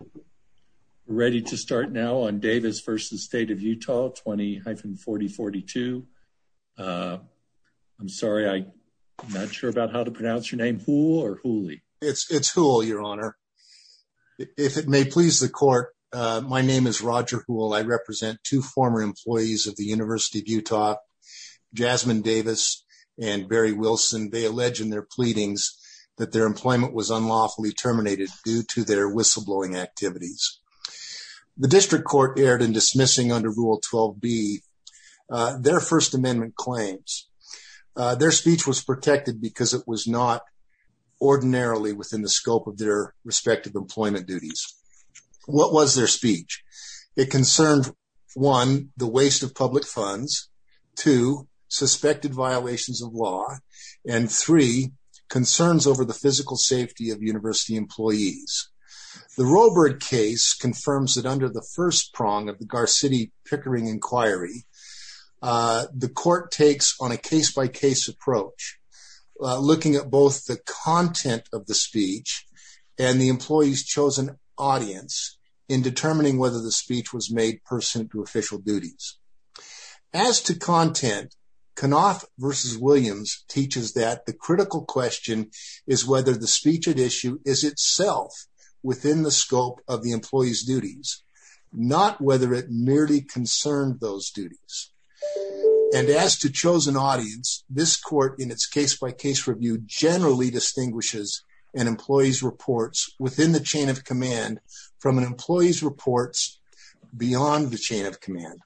We're ready to start now on Davis v. State of Utah 20-4042. I'm sorry, I'm not sure about how to pronounce your name. Hule or Huley? It's Hule, your honor. If it may please the court, my name is Roger Hule. I represent two former employees of the University of Utah, Jasmine Davis and Barry Wilson. They allege in their pleadings that their employment was unlawfully terminated due to their whistleblowing activities. The district court erred in dismissing under Rule 12b their First Amendment claims. Their speech was protected because it was not ordinarily within the scope of their respective employment duties. What was their speech? It concerned, one, the waste of public funds, two, suspected violations of law, and three, concerns over the physical safety of university employees. The Robert case confirms that under the first prong of the Gar-City Pickering inquiry, the court takes on a case-by-case approach, looking at both the content of the speech and the employee's chosen audience in determining whether the speech was made to official duties. As to content, Knoth v. Williams teaches that the critical question is whether the speech at issue is itself within the scope of the employee's duties, not whether it merely concerned those duties. And as to chosen audience, this court in its case-by-case review generally distinguishes an employee's reports within the chain of command from an employee's reports beyond the chain of command.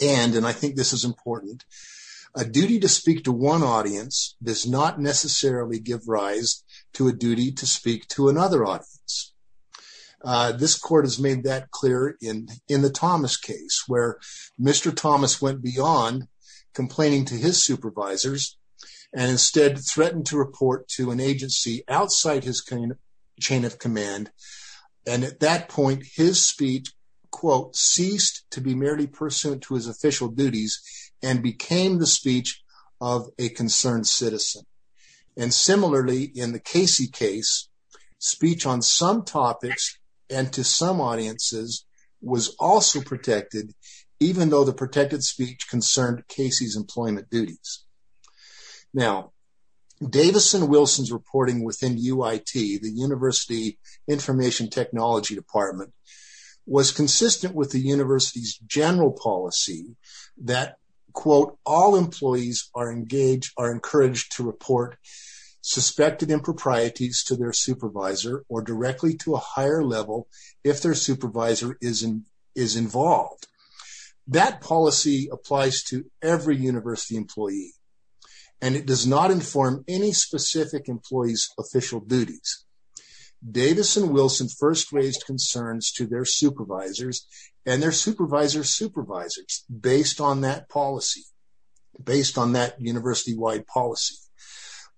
And, and I think this is important, a duty to speak to one audience does not necessarily give rise to a duty to speak to another audience. This court has made that clear in the Thomas case, where Mr. Thomas went beyond complaining to his supervisors and instead threatened to report to an agency outside his chain of command. And at that point, his speech, quote, ceased to be merely pursuant to his official duties and became the speech of a concerned citizen. And similarly, in the Casey case, speech on some topics and to some audiences was also protected, even though the protected speech concerned Casey's employment duties. Now, Davison-Wilson's reporting within UIT, the University Information Technology Department, was consistent with the university's general policy that, quote, all employees are engaged, are encouraged to report suspected improprieties to their supervisor or directly to a higher level if their supervisor is involved. That policy applies to every university employee, and it does not inform any specific employee's official duties. Davison-Wilson first raised concerns to their supervisors and their supervisor's supervisors based on that policy, based on that university-wide policy.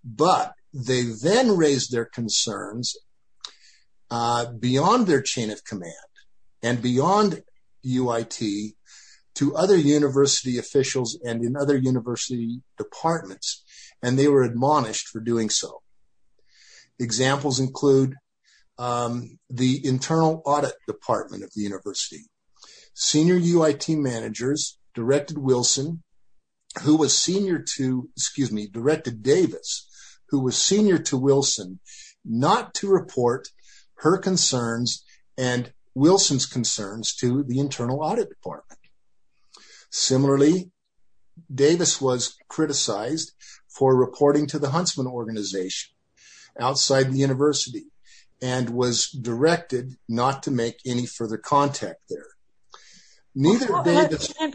But they then raised their concerns beyond their chain of command and beyond UIT to other university officials and in other university departments, and they were admonished for doing so. Examples include the Internal Audit Department of the university. Senior UIT managers directed Davison-Wilson, who was senior to, excuse me, directed Davison-Wilson, who was senior to Davison-Wilson, not to report her concerns and Davison-Wilson's concerns to the Internal Audit Department. Similarly, Davison-Wilson was criticized for reporting to the Huntsman Organization outside the university and was directed not to make any further contact there.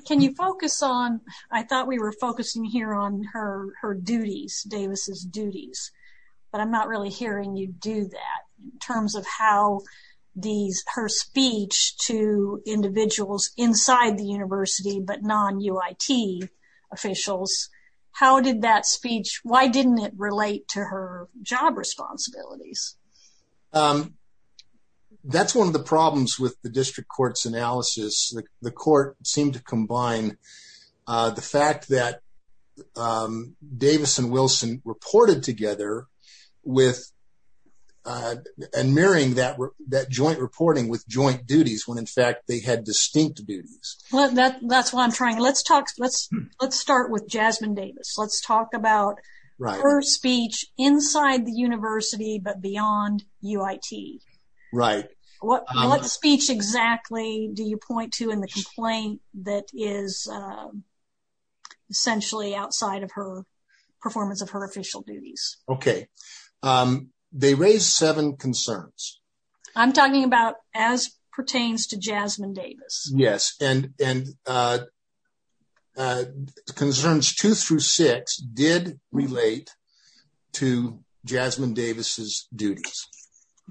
Can you focus on, I thought we were focusing here on her duties, Davis's duties, but I'm not really hearing you do that in terms of how these, her speech to individuals inside the university but non-UIT officials, how did that speech, why didn't it relate to her job responsibilities? That's one of the problems with the district court's analysis. The court seemed to combine the fact that Davison-Wilson reported together with, and marrying that joint reporting with joint duties when in fact they had distinct duties. Well, that's why I'm trying, let's talk, let's start with Jasmine Davis. Let's talk about her speech inside the university but beyond UIT. What speech exactly do you point to in the complaint that is essentially outside of her performance of her official duties? Okay, they raised seven concerns. I'm talking about as pertains to Jasmine Davis. Yes, and the concerns two through six did relate to Jasmine Davis's duties.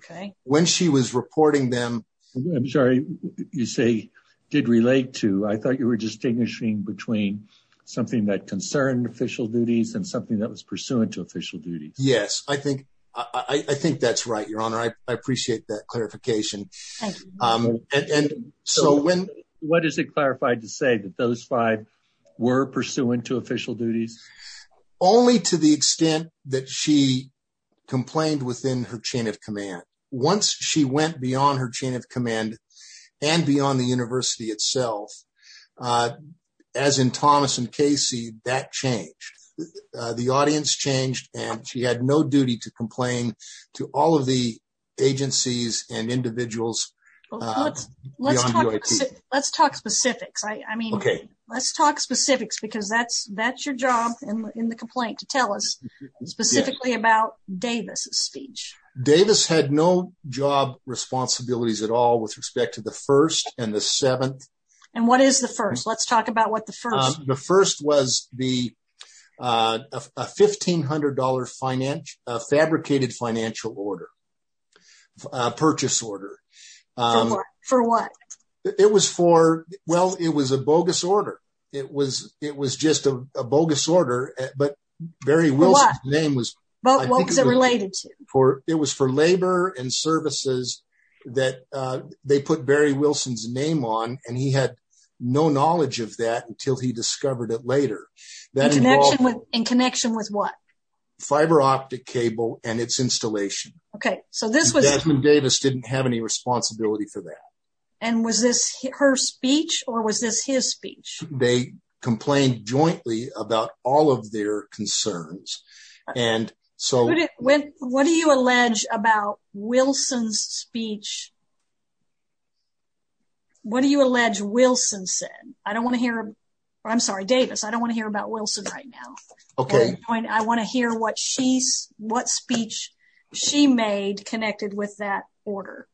Okay. When she was reporting them. I'm sorry, you say did relate to, I thought you were distinguishing between something that concerned official duties and something that was pursuant to official duties. Yes, I think that's right, your honor. I appreciate that clarification. And so when, what is it clarified to say that those five were pursuant to official duties? Only to the extent that she complained within her chain of command. Once she went beyond her chain of command and beyond the university itself, as in Thomas and Casey, that changed. The audience changed and she had no duty to complain to all of the agencies and individuals. Let's talk specifics. I mean, let's talk specifics because that's your job in the complaint to tell us specifically about Davis's speech. Davis had no job responsibilities at all with respect to the first and the seventh. And what is the first? Let's talk about what the first was. The first was a $1,500 fabricated financial order, a purchase order. For what? It was for, well, it was a bogus order. It was just a bogus order, but Barry Wilson's name was- But what was it related to? It was for labor and services that they put Barry Wilson's name on and he had no knowledge of that until he discovered it later. In connection with what? Fiber optic cable and its installation. Okay. So this was- Desmond Davis didn't have any responsibility for that. And was this her speech or was this his speech? They complained jointly about all of their concerns. And so- What do you allege about Wilson's speech? What do you allege Wilson said? I don't want to hear, I'm sorry, Davis. I don't want to hear about Wilson right now. I want to hear what speech she made connected with that order.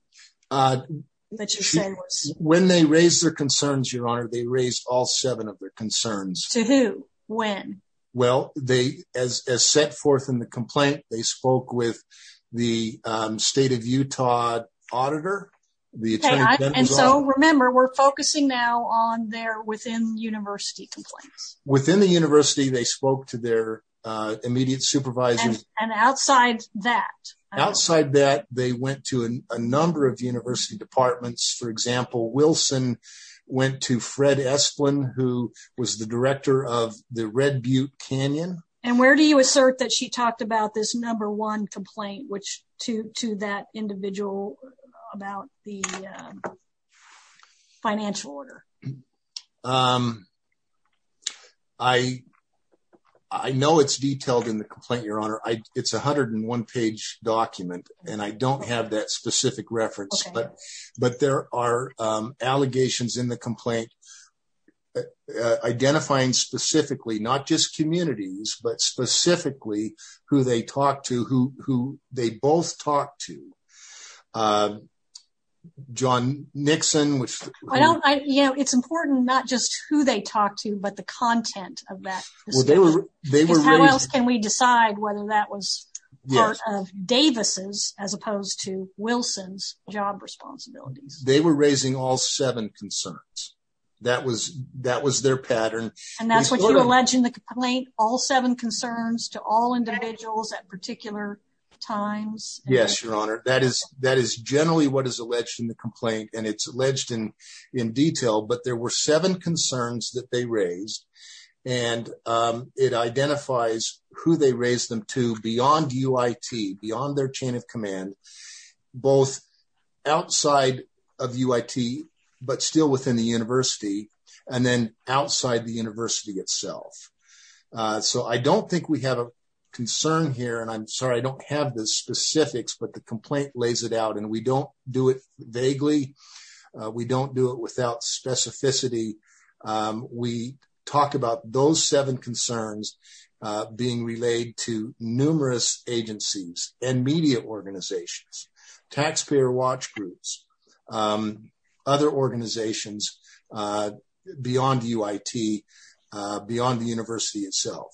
When they raised their concerns, your honor, they raised all seven of their concerns. To who? When? Well, as set forth in the complaint, they spoke with the state of Utah auditor. And so remember, we're focusing now on their within-university complaints. Within the university, they spoke to their immediate supervisor. And outside that? Outside that, they went to a number of university departments. For example, Wilson went to Fred Esplin, who was the director of the Red Butte Canyon. And where do you assert that she talked about this number one complaint, which to that individual about the financial order? I know it's detailed in the complaint, your honor. It's 101 page document, and I don't have that specific reference, but there are allegations in the complaint identifying specifically, not just communities, but specifically who they talked to, who they both talked to. John Nixon, which- It's important, not just who they talked to, but the content of that. How else can we decide whether that was part of Davis's as opposed to Wilson's job responsibilities? They were raising all seven concerns. That was their pattern. And that's what you alleged in the complaint, all seven concerns to all individuals at particular times? Yes, your honor. That is generally what is alleged in the complaint, and it's alleged in detail, but there were seven concerns that they raised. And it identifies who they raised them to beyond UIT, beyond their chain of command, both outside of UIT, but still within the university, and then outside the university itself. So I don't think we have a concern here, and I'm sorry, I don't have the specifics, but the complaint lays it out, and we don't do it vaguely. We don't do it without specificity. We talk about those seven concerns being relayed to numerous agencies and media organizations, taxpayer watch groups, other organizations beyond UIT, beyond the university itself.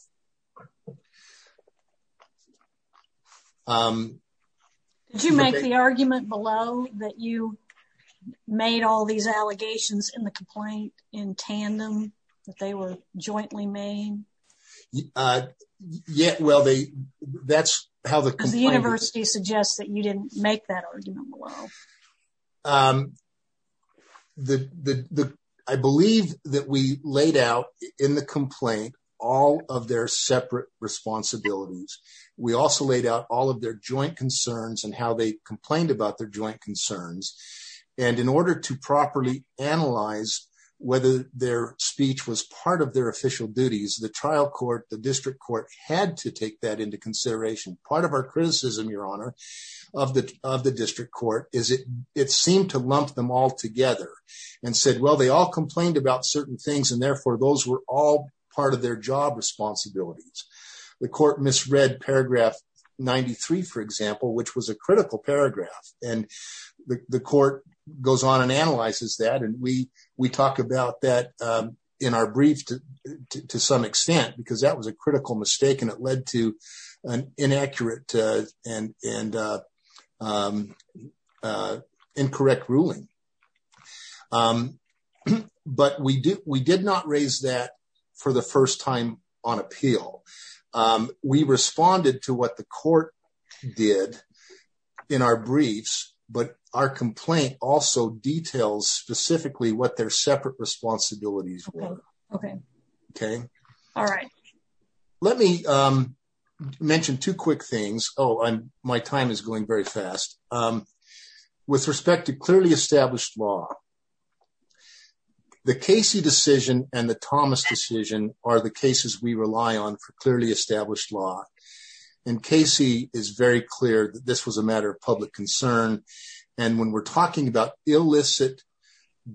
Did you make the argument below that you made all these allegations in the complaint in tandem, that they were jointly made? Yeah, well, that's how the complaint- Because the university suggests that you didn't make that argument below. I believe that we laid out in the complaint all of their separate responsibilities. We also laid out all of their joint concerns and how they complained about their joint concerns. And in order to properly analyze whether their speech was part of their official duties, the district court had to take that into consideration. Part of our criticism, Your Honor, of the district court is it seemed to lump them all together and said, well, they all complained about certain things, and therefore those were all part of their job responsibilities. The court misread paragraph 93, for example, which was a critical paragraph. And the court goes on and analyzes that, and we talk about that in our brief to some extent, because that was a critical mistake and it led to an inaccurate and incorrect ruling. But we did not raise that for the first time on appeal. We responded to what the court did in our briefs, but our complaint also details specifically what their separate responsibilities were. Okay. All right. Let me mention two quick things. Oh, my time is going very fast. With respect to clearly established law, the Casey decision and the Thomas decision are the cases we rely on for clearly established law. And Casey is very clear that this was a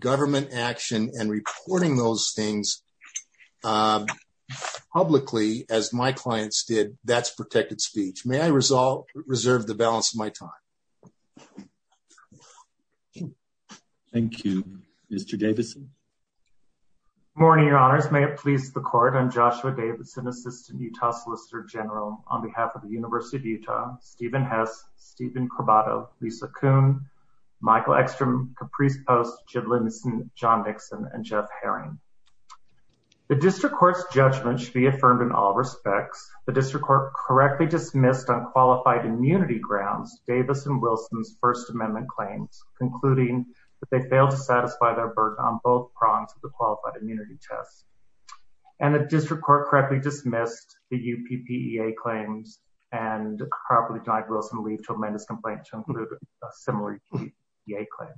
government action, and reporting those things publicly, as my clients did, that's protected speech. May I reserve the balance of my time? Thank you. Mr. Davidson? Good morning, Your Honors. May it please the court, I'm Joshua Davidson, Assistant Utah Solicitor General on behalf of the University of Utah, Stephen Hess, Stephen Corbato, Lisa Kuhn, Michael Ekstrom, Caprice Post, Jib Lynson, John Nixon, and Jeff Herring. The District Court's judgment should be affirmed in all respects. The District Court correctly dismissed on qualified immunity grounds Davis and Wilson's First Amendment claims, concluding that they failed to satisfy their burden on both prongs of the qualified immunity test. And the District Court correctly dismissed the UPPEA claims and properly denied Wilson leave to amend his complaint to include a similar UPPEA claim.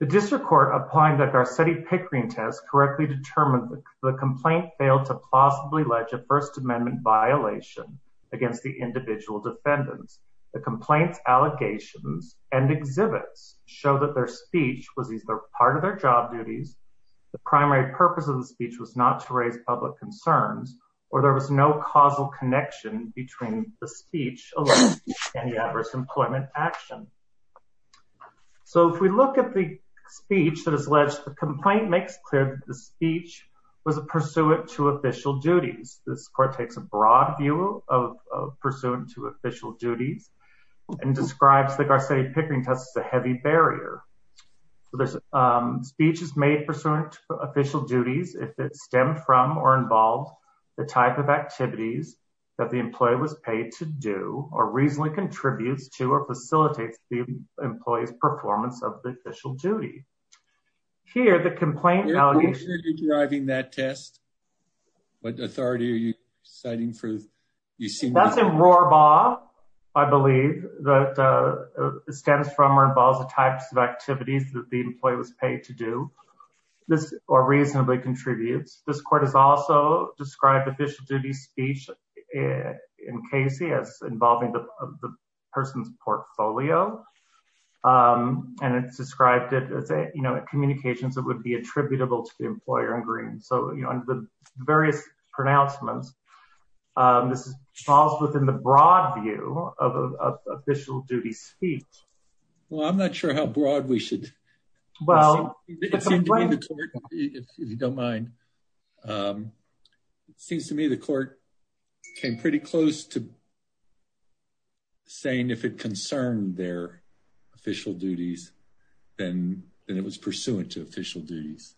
The District Court, applying the Garcetti-Pickering test, correctly determined the complaint failed to plausibly ledge a First Amendment violation against the individual defendants. The complaint's allegations and exhibits show that their speech was either part of their job duties, the primary purpose of the speech was not to raise public concerns, or there was no causal connection between the speech and the adverse employment action. So if we look at the speech that is alleged, the complaint makes clear that the speech was pursuant to official duties. This court takes a broad view of pursuant to official duties and describes the Garcetti-Pickering test as a heavy barrier. So this speech is made pursuant to official duties if it stemmed from or involved the type of activities that the employee was paid to do or reasonably contributes to or facilitates the employee's performance of the official duty. Here, the complaint... Are you sure you're deriving that test? What authority are you citing for... That's in Rohrbaugh, I believe, that stems from or involves the types of activities that the employee was paid to do or reasonably contributes. This court has also described official duty speech in Casey as involving the person's portfolio, and it's described it as a, you know, a communications that would be attributable to the employer in green. So, you know, various pronouncements. This falls within the broad view of official duty speech. Well, I'm not sure how broad we should... Well... If you don't mind. It seems to me the court came pretty close to saying if it concerned their official duties, then it was pursuant to official duties.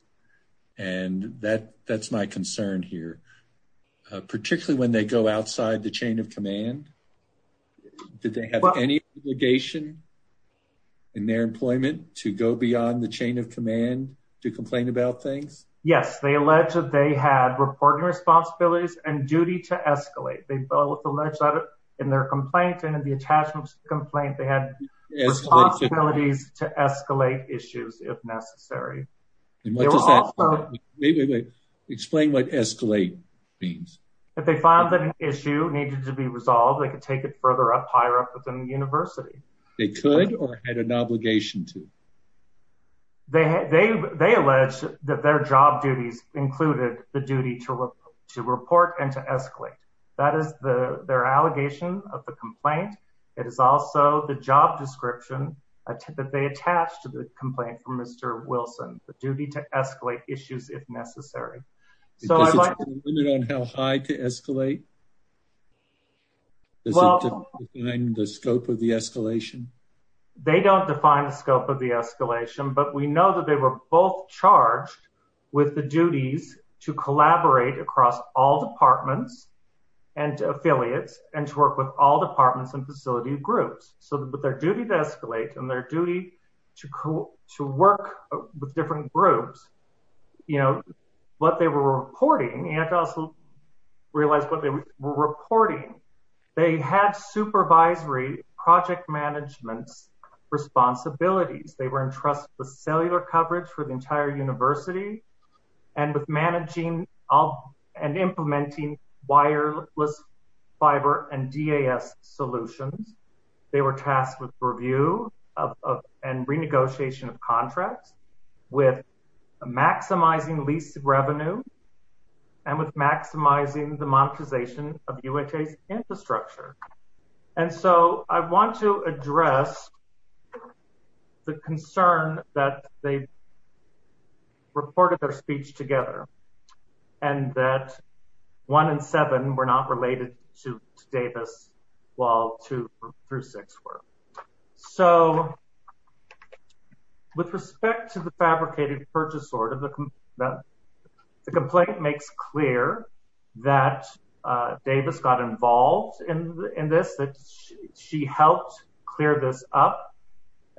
And that's my concern here, particularly when they go outside the chain of command. Did they have any obligation in their employment to go beyond the chain of command to complain about things? Yes, they allege that they had reporting responsibilities and duty to escalate. They both allege that in their complaint and in the attachment complaint, they had responsibilities to escalate issues if necessary. Explain what escalate means. If they found that an issue needed to be resolved, they could take it further up, higher up within the university. They could or had an obligation to? They allege that their job duties included the duty to report and to escalate. That is their allegation of the complaint. It is also the job description that they attach to the complaint from Mr. Wilson, the duty to escalate issues if necessary. Is there a limit on how high to escalate? Does it define the scope of the escalation? They don't define the scope of the escalation, but we know that they were both charged with the duties to collaborate across all departments and affiliates and to work with all departments and facility groups. But their duty to escalate and their duty to work with different groups, what they were reporting, you have to also realize what they were reporting. They had supervisory project management responsibilities. They were entrusted with cellular coverage for the entire wireless fiber and DAS solutions. They were tasked with review and renegotiation of contracts with maximizing lease revenue and with maximizing the monetization of UITA's infrastructure. I want to address the concern that they reported their speech together and that one and seven were not related to Davis while two through six were. With respect to the fabricated purchase order, the complaint makes clear that Davis got involved in this, that she helped clear this up.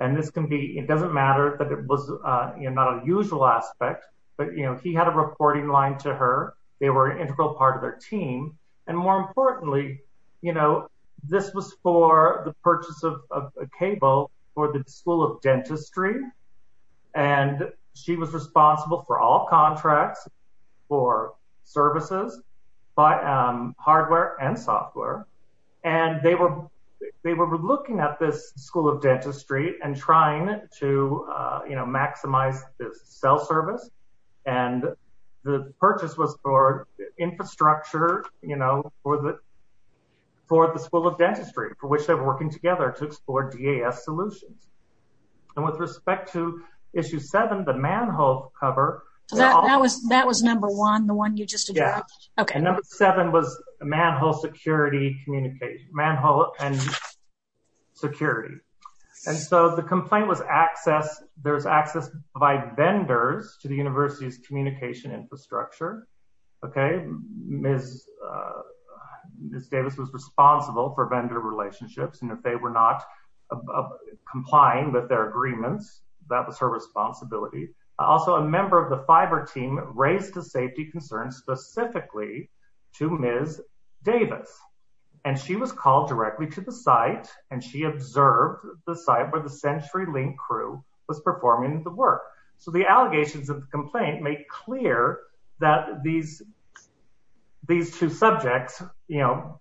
It doesn't matter that it was not a usual aspect, but he had a reporting line to her. They were an integral part of their team. And more importantly, this was for the purchase of a cable for the school of dentistry. And she was responsible for all contracts for services by hardware and software. And they were looking at this school of dentistry and trying to maximize the cell service. And the purchase was for infrastructure for the school of dentistry, for which they were working together to explore DAS solutions. And with respect to issue seven, the manhole cover. That was number one, the one you just addressed. Okay. Number seven was a manhole security communication, manhole and security. And so the complaint was access. There's access by vendors to the university's communication infrastructure. Okay. Ms. Davis was responsible for vendor relationships. And if they were not complying with their agreements, that was her responsibility. Also a member of the fiber team raised a safety concern specifically to Ms. Davis. And she was called directly to the site and she observed the site where the century link crew was performing the work. So the allegations of the complaint make clear that these, these two subjects, you know,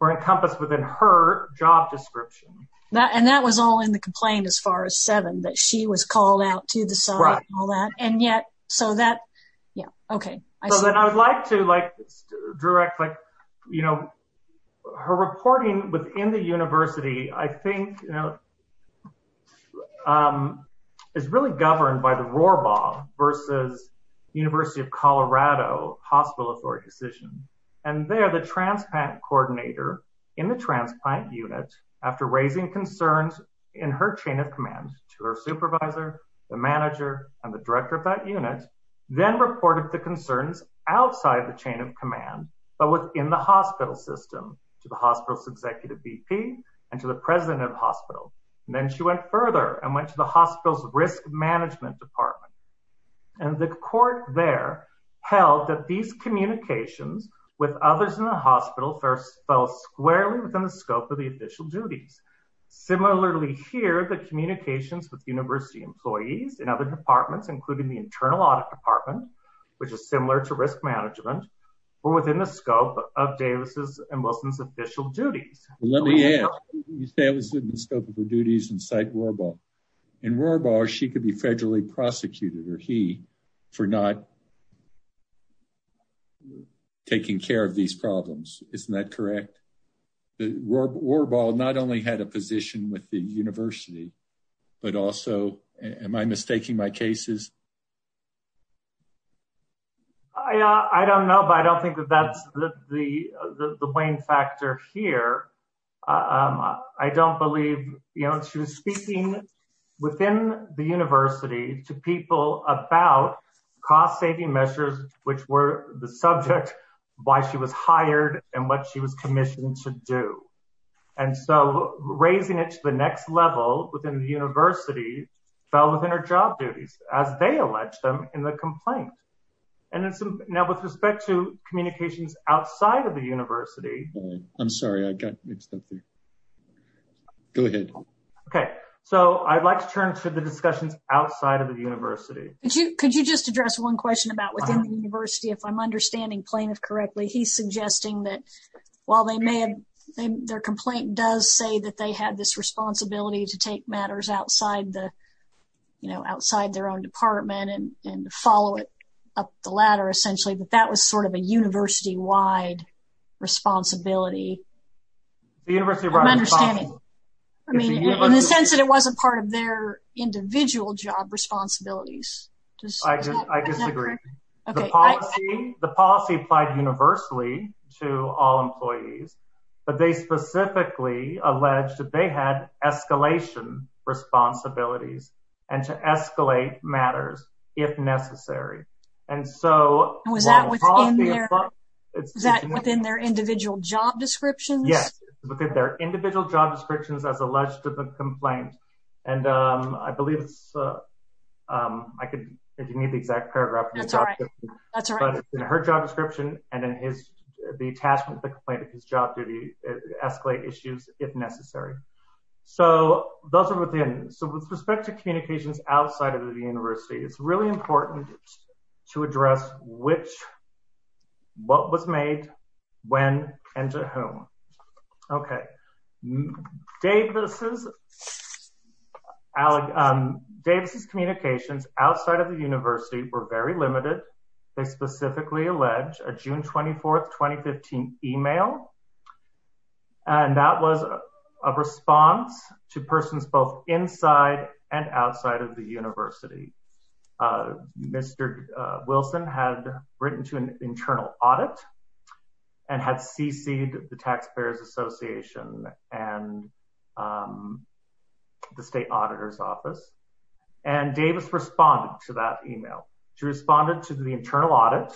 were encompassed within her description. And that was all in the complaint as far as seven that she was called out to the site and all that. And yet, so that, yeah. Okay. So then I would like to like direct, like, you know, her reporting within the university, I think, you know, is really governed by the RORBA versus university of Colorado hospital authority decision. And they're the transplant coordinator in the transplant unit after raising concerns in her chain of command to her supervisor, the manager and the director of that unit, then reported the concerns outside the chain of command, but within the hospital system to the hospital's executive VP and to the president of the hospital. And then she went further and went to the hospital's risk management department. And the court there held that these communications with others in the hospital first fell squarely within the scope of the official duties. Similarly here, the communications with university employees and other departments, including the internal audit department, which is similar to risk management or within the scope of Davis's and Wilson's official duties. Let me add, that was in the scope of the duties and site RORBA. In RORBA she could be federally prosecuted for not taking care of these problems. Isn't that correct? The RORBA not only had a position with the university, but also am I mistaking my cases? I don't know, but I don't think that that's the Wayne factor here. I don't believe, you know, speaking within the university to people about cost-saving measures, which were the subject, why she was hired and what she was commissioned to do. And so raising it to the next level within the university fell within her job duties as they elect them in the complaint. And now with respect to communications outside of the university, I'm sorry, I got mixed up there. Go ahead. Okay. So I'd like to turn to the discussions outside of the university. Could you just address one question about within the university, if I'm understanding plaintiff correctly, he's suggesting that while they may have, their complaint does say that they had this responsibility to take matters outside the, you know, outside their own department and follow up the ladder, essentially, but that was sort of a university-wide responsibility. In the sense that it wasn't part of their individual job responsibilities. The policy applied universally to all employees, but they specifically alleged that they had escalation responsibilities and to escalate matters if necessary. And so was that within their individual job descriptions? Yes. Look at their individual job descriptions as alleged to the complaint. And I believe it's, I could, if you need the exact paragraph, but her job description and then his, the attachment, the complaint of his job, did he escalate issues if necessary? So those are within. So with respect to communications outside of the university, it's really important to address which, what was made when and to whom. Okay. Davis's June 24th, 2015 email. And that was a response to persons both inside and outside of the university. Mr. Wilson had written to an internal audit and had CC'd the Taxpayers Association and the State Auditor's Office. And Davis responded to that email. She responded to the internal audit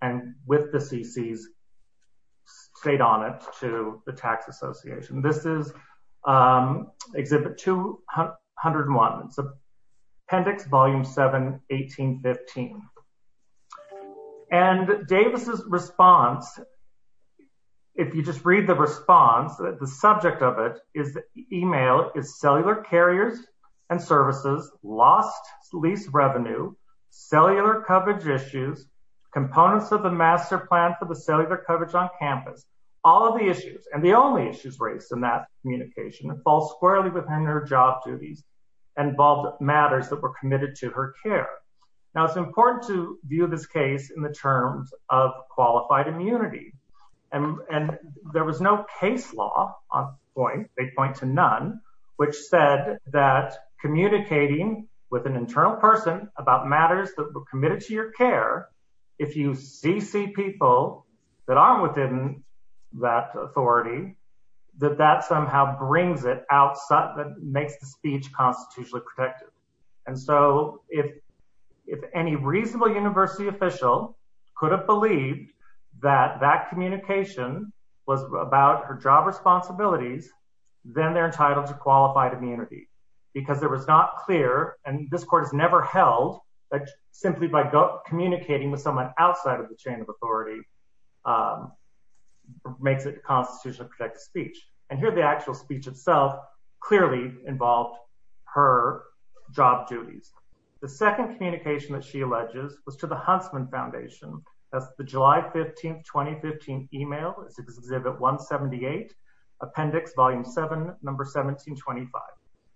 and with the CC's stayed on it to the Tax Association. This is Exhibit 201, Appendix Volume 7, 1815. And Davis's response, if you just read the response, the subject of it is emailed is cellular carriers and services, lost lease revenue, cellular coverage issues, components of the master plan for the cellular coverage on campus, all of the issues. And the only issues raised in that communication, it falls squarely within her job duties, involved matters that were committed to her care. Now it's important to view this case in the terms of qualified immunity. And there was no case law on point, they point to none, which said that communicating with an internal person about matters that were committed to your care, if you CC people that aren't within that authority, that that somehow brings it out, makes the speech constitutionally protected. And so if any reasonable university official could have believed that that communication was about her job responsibilities, then they're entitled to qualified immunity. Because there was not clear, and this court has never held, simply by communicating with someone outside of the chain of authority, makes it constitutionally protected speech. And here the actual speech itself clearly involved her job duties. The second communication that she alleges was to the Huntsman Foundation, that's the July 15th, 2015 email, it's exhibit 178, appendix volume seven, number 1725.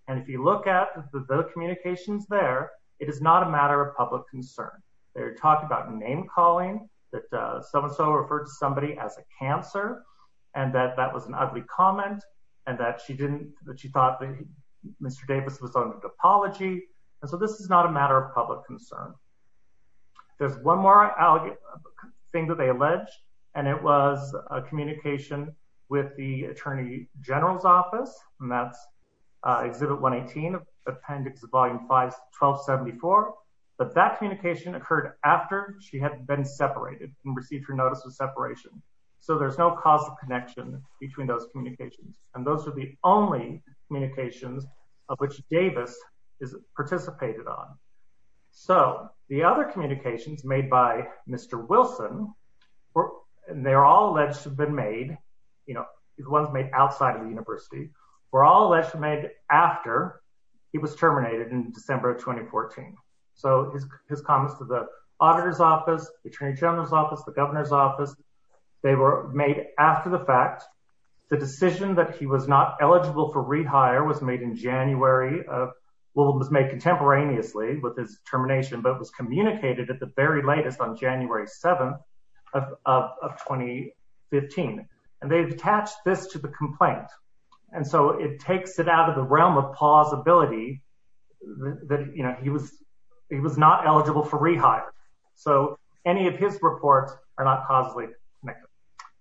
And if you look at the communications there, it is not a matter of public concern. They're talking about name calling, that so-and-so referred to somebody as a cancer, and that that was an ugly comment, and that she didn't, that she thought that Mr. Davis was on an apology. And so this is not a matter of public concern. There's one more thing that they alleged, and it was a communication with the Attorney General's office, and that's exhibit 118, appendix volume 1274. But that communication occurred after she had been separated and received her notice of separation. So there's no causal connection between those communications. And those are the only communications of which Davis participated on. So the other communications made by Mr. Wilson, and they're all alleged to have been made, you know, the ones made outside of the university, were all alleged to have been made after he was terminated in December of 2014. So his comments to the auditor's office, the Attorney General's office, the Governor's office, they were made after the fact. The decision that he was not eligible for rehire was made in January of, well, it was made contemporaneously with his termination, but it was communicated at the very latest on January 7th of 2015. And they've attached this to the complaint. And so it takes it out of the realm of plausibility that, you know, he was not eligible for rehire. So any of his reports are not causally connected.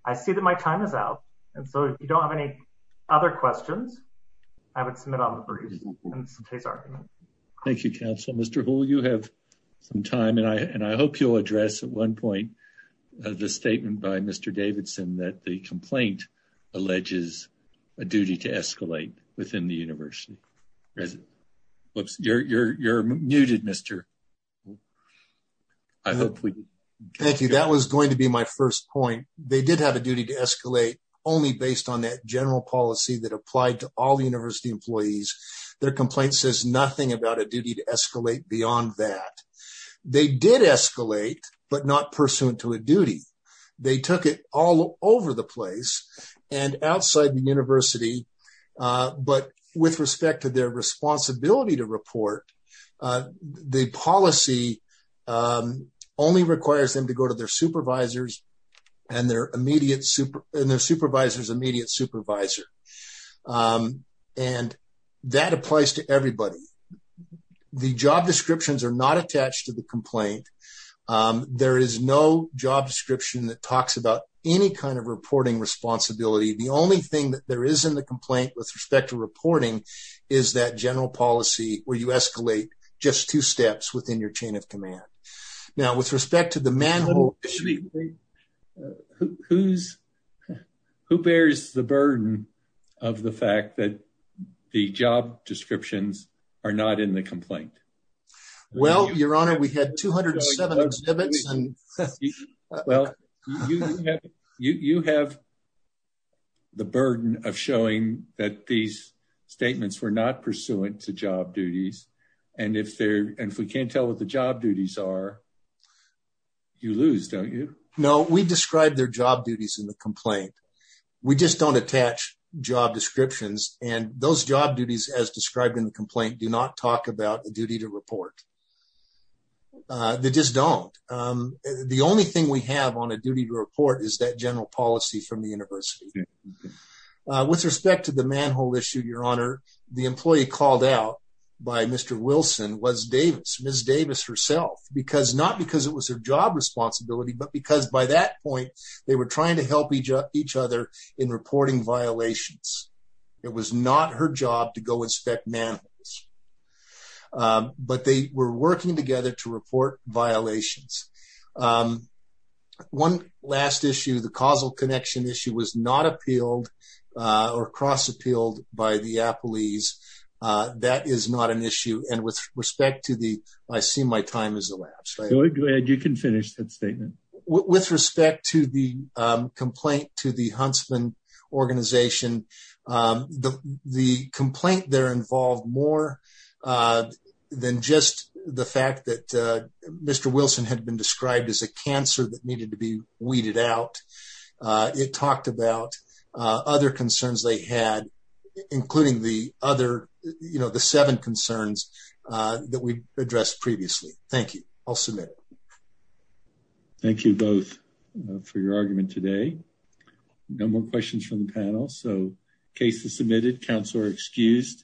I see that my time is out. And so if you don't have any other questions, I would submit on the briefs. And it's a case argument. Thank you, counsel. Mr. Houle, you have some time, and I hope you'll address at one point the statement by Mr. Davidson that the complaint alleges a duty to escalate within the university. Whoops, you're muted, Mr. I hope we can. Thank you. That was going to be my first point. They did have a duty to escalate only based on that general policy that applied to all the university employees. Their complaint says nothing about a duty to escalate beyond that. They did escalate, but not pursuant to a duty. They took it all over the place and outside the university. But with respect to their responsibility to report, the policy only requires them to go to their supervisor's immediate supervisor. And that applies to everybody. The job descriptions are not attached to the complaint. There is no job description that talks about any kind of reporting responsibility. The only thing that there is in the complaint with respect to reporting is that general policy where you escalate just two steps within your chain of command. Now, with respect to the manhole... Who bears the burden of the fact that the job descriptions are not in the complaint? Well, your honor, we had 207 exhibits. Well, you have the burden of showing that these statements were not pursuant to job duties. And if we can't tell what the job duties are, you lose, don't you? No, we describe their job duties in the complaint. We just don't attach job descriptions. And those job duties as described in the complaint do not talk about the duty to report. They just don't. The only thing we have on a duty to report is that general policy from the university. With respect to the manhole issue, your honor, the employee called out by Mr. Wilson was Davis, Ms. Davis herself, not because it was her job responsibility, but because by that point, they were trying to help each other in reporting violations. It was not her job to go inspect manholes. But they were working together to report violations. One last issue, the causal I see my time has elapsed. You can finish that statement. With respect to the complaint to the Huntsman organization, the complaint there involved more than just the fact that Mr. Wilson had been described as a cancer that needed to be weeded out. It talked about other concerns they had, including the other, you know, the seven concerns that we addressed previously. Thank you. I'll submit it. Thank you both for your argument today. No more questions from the panel. So case is submitted. Counselor excused.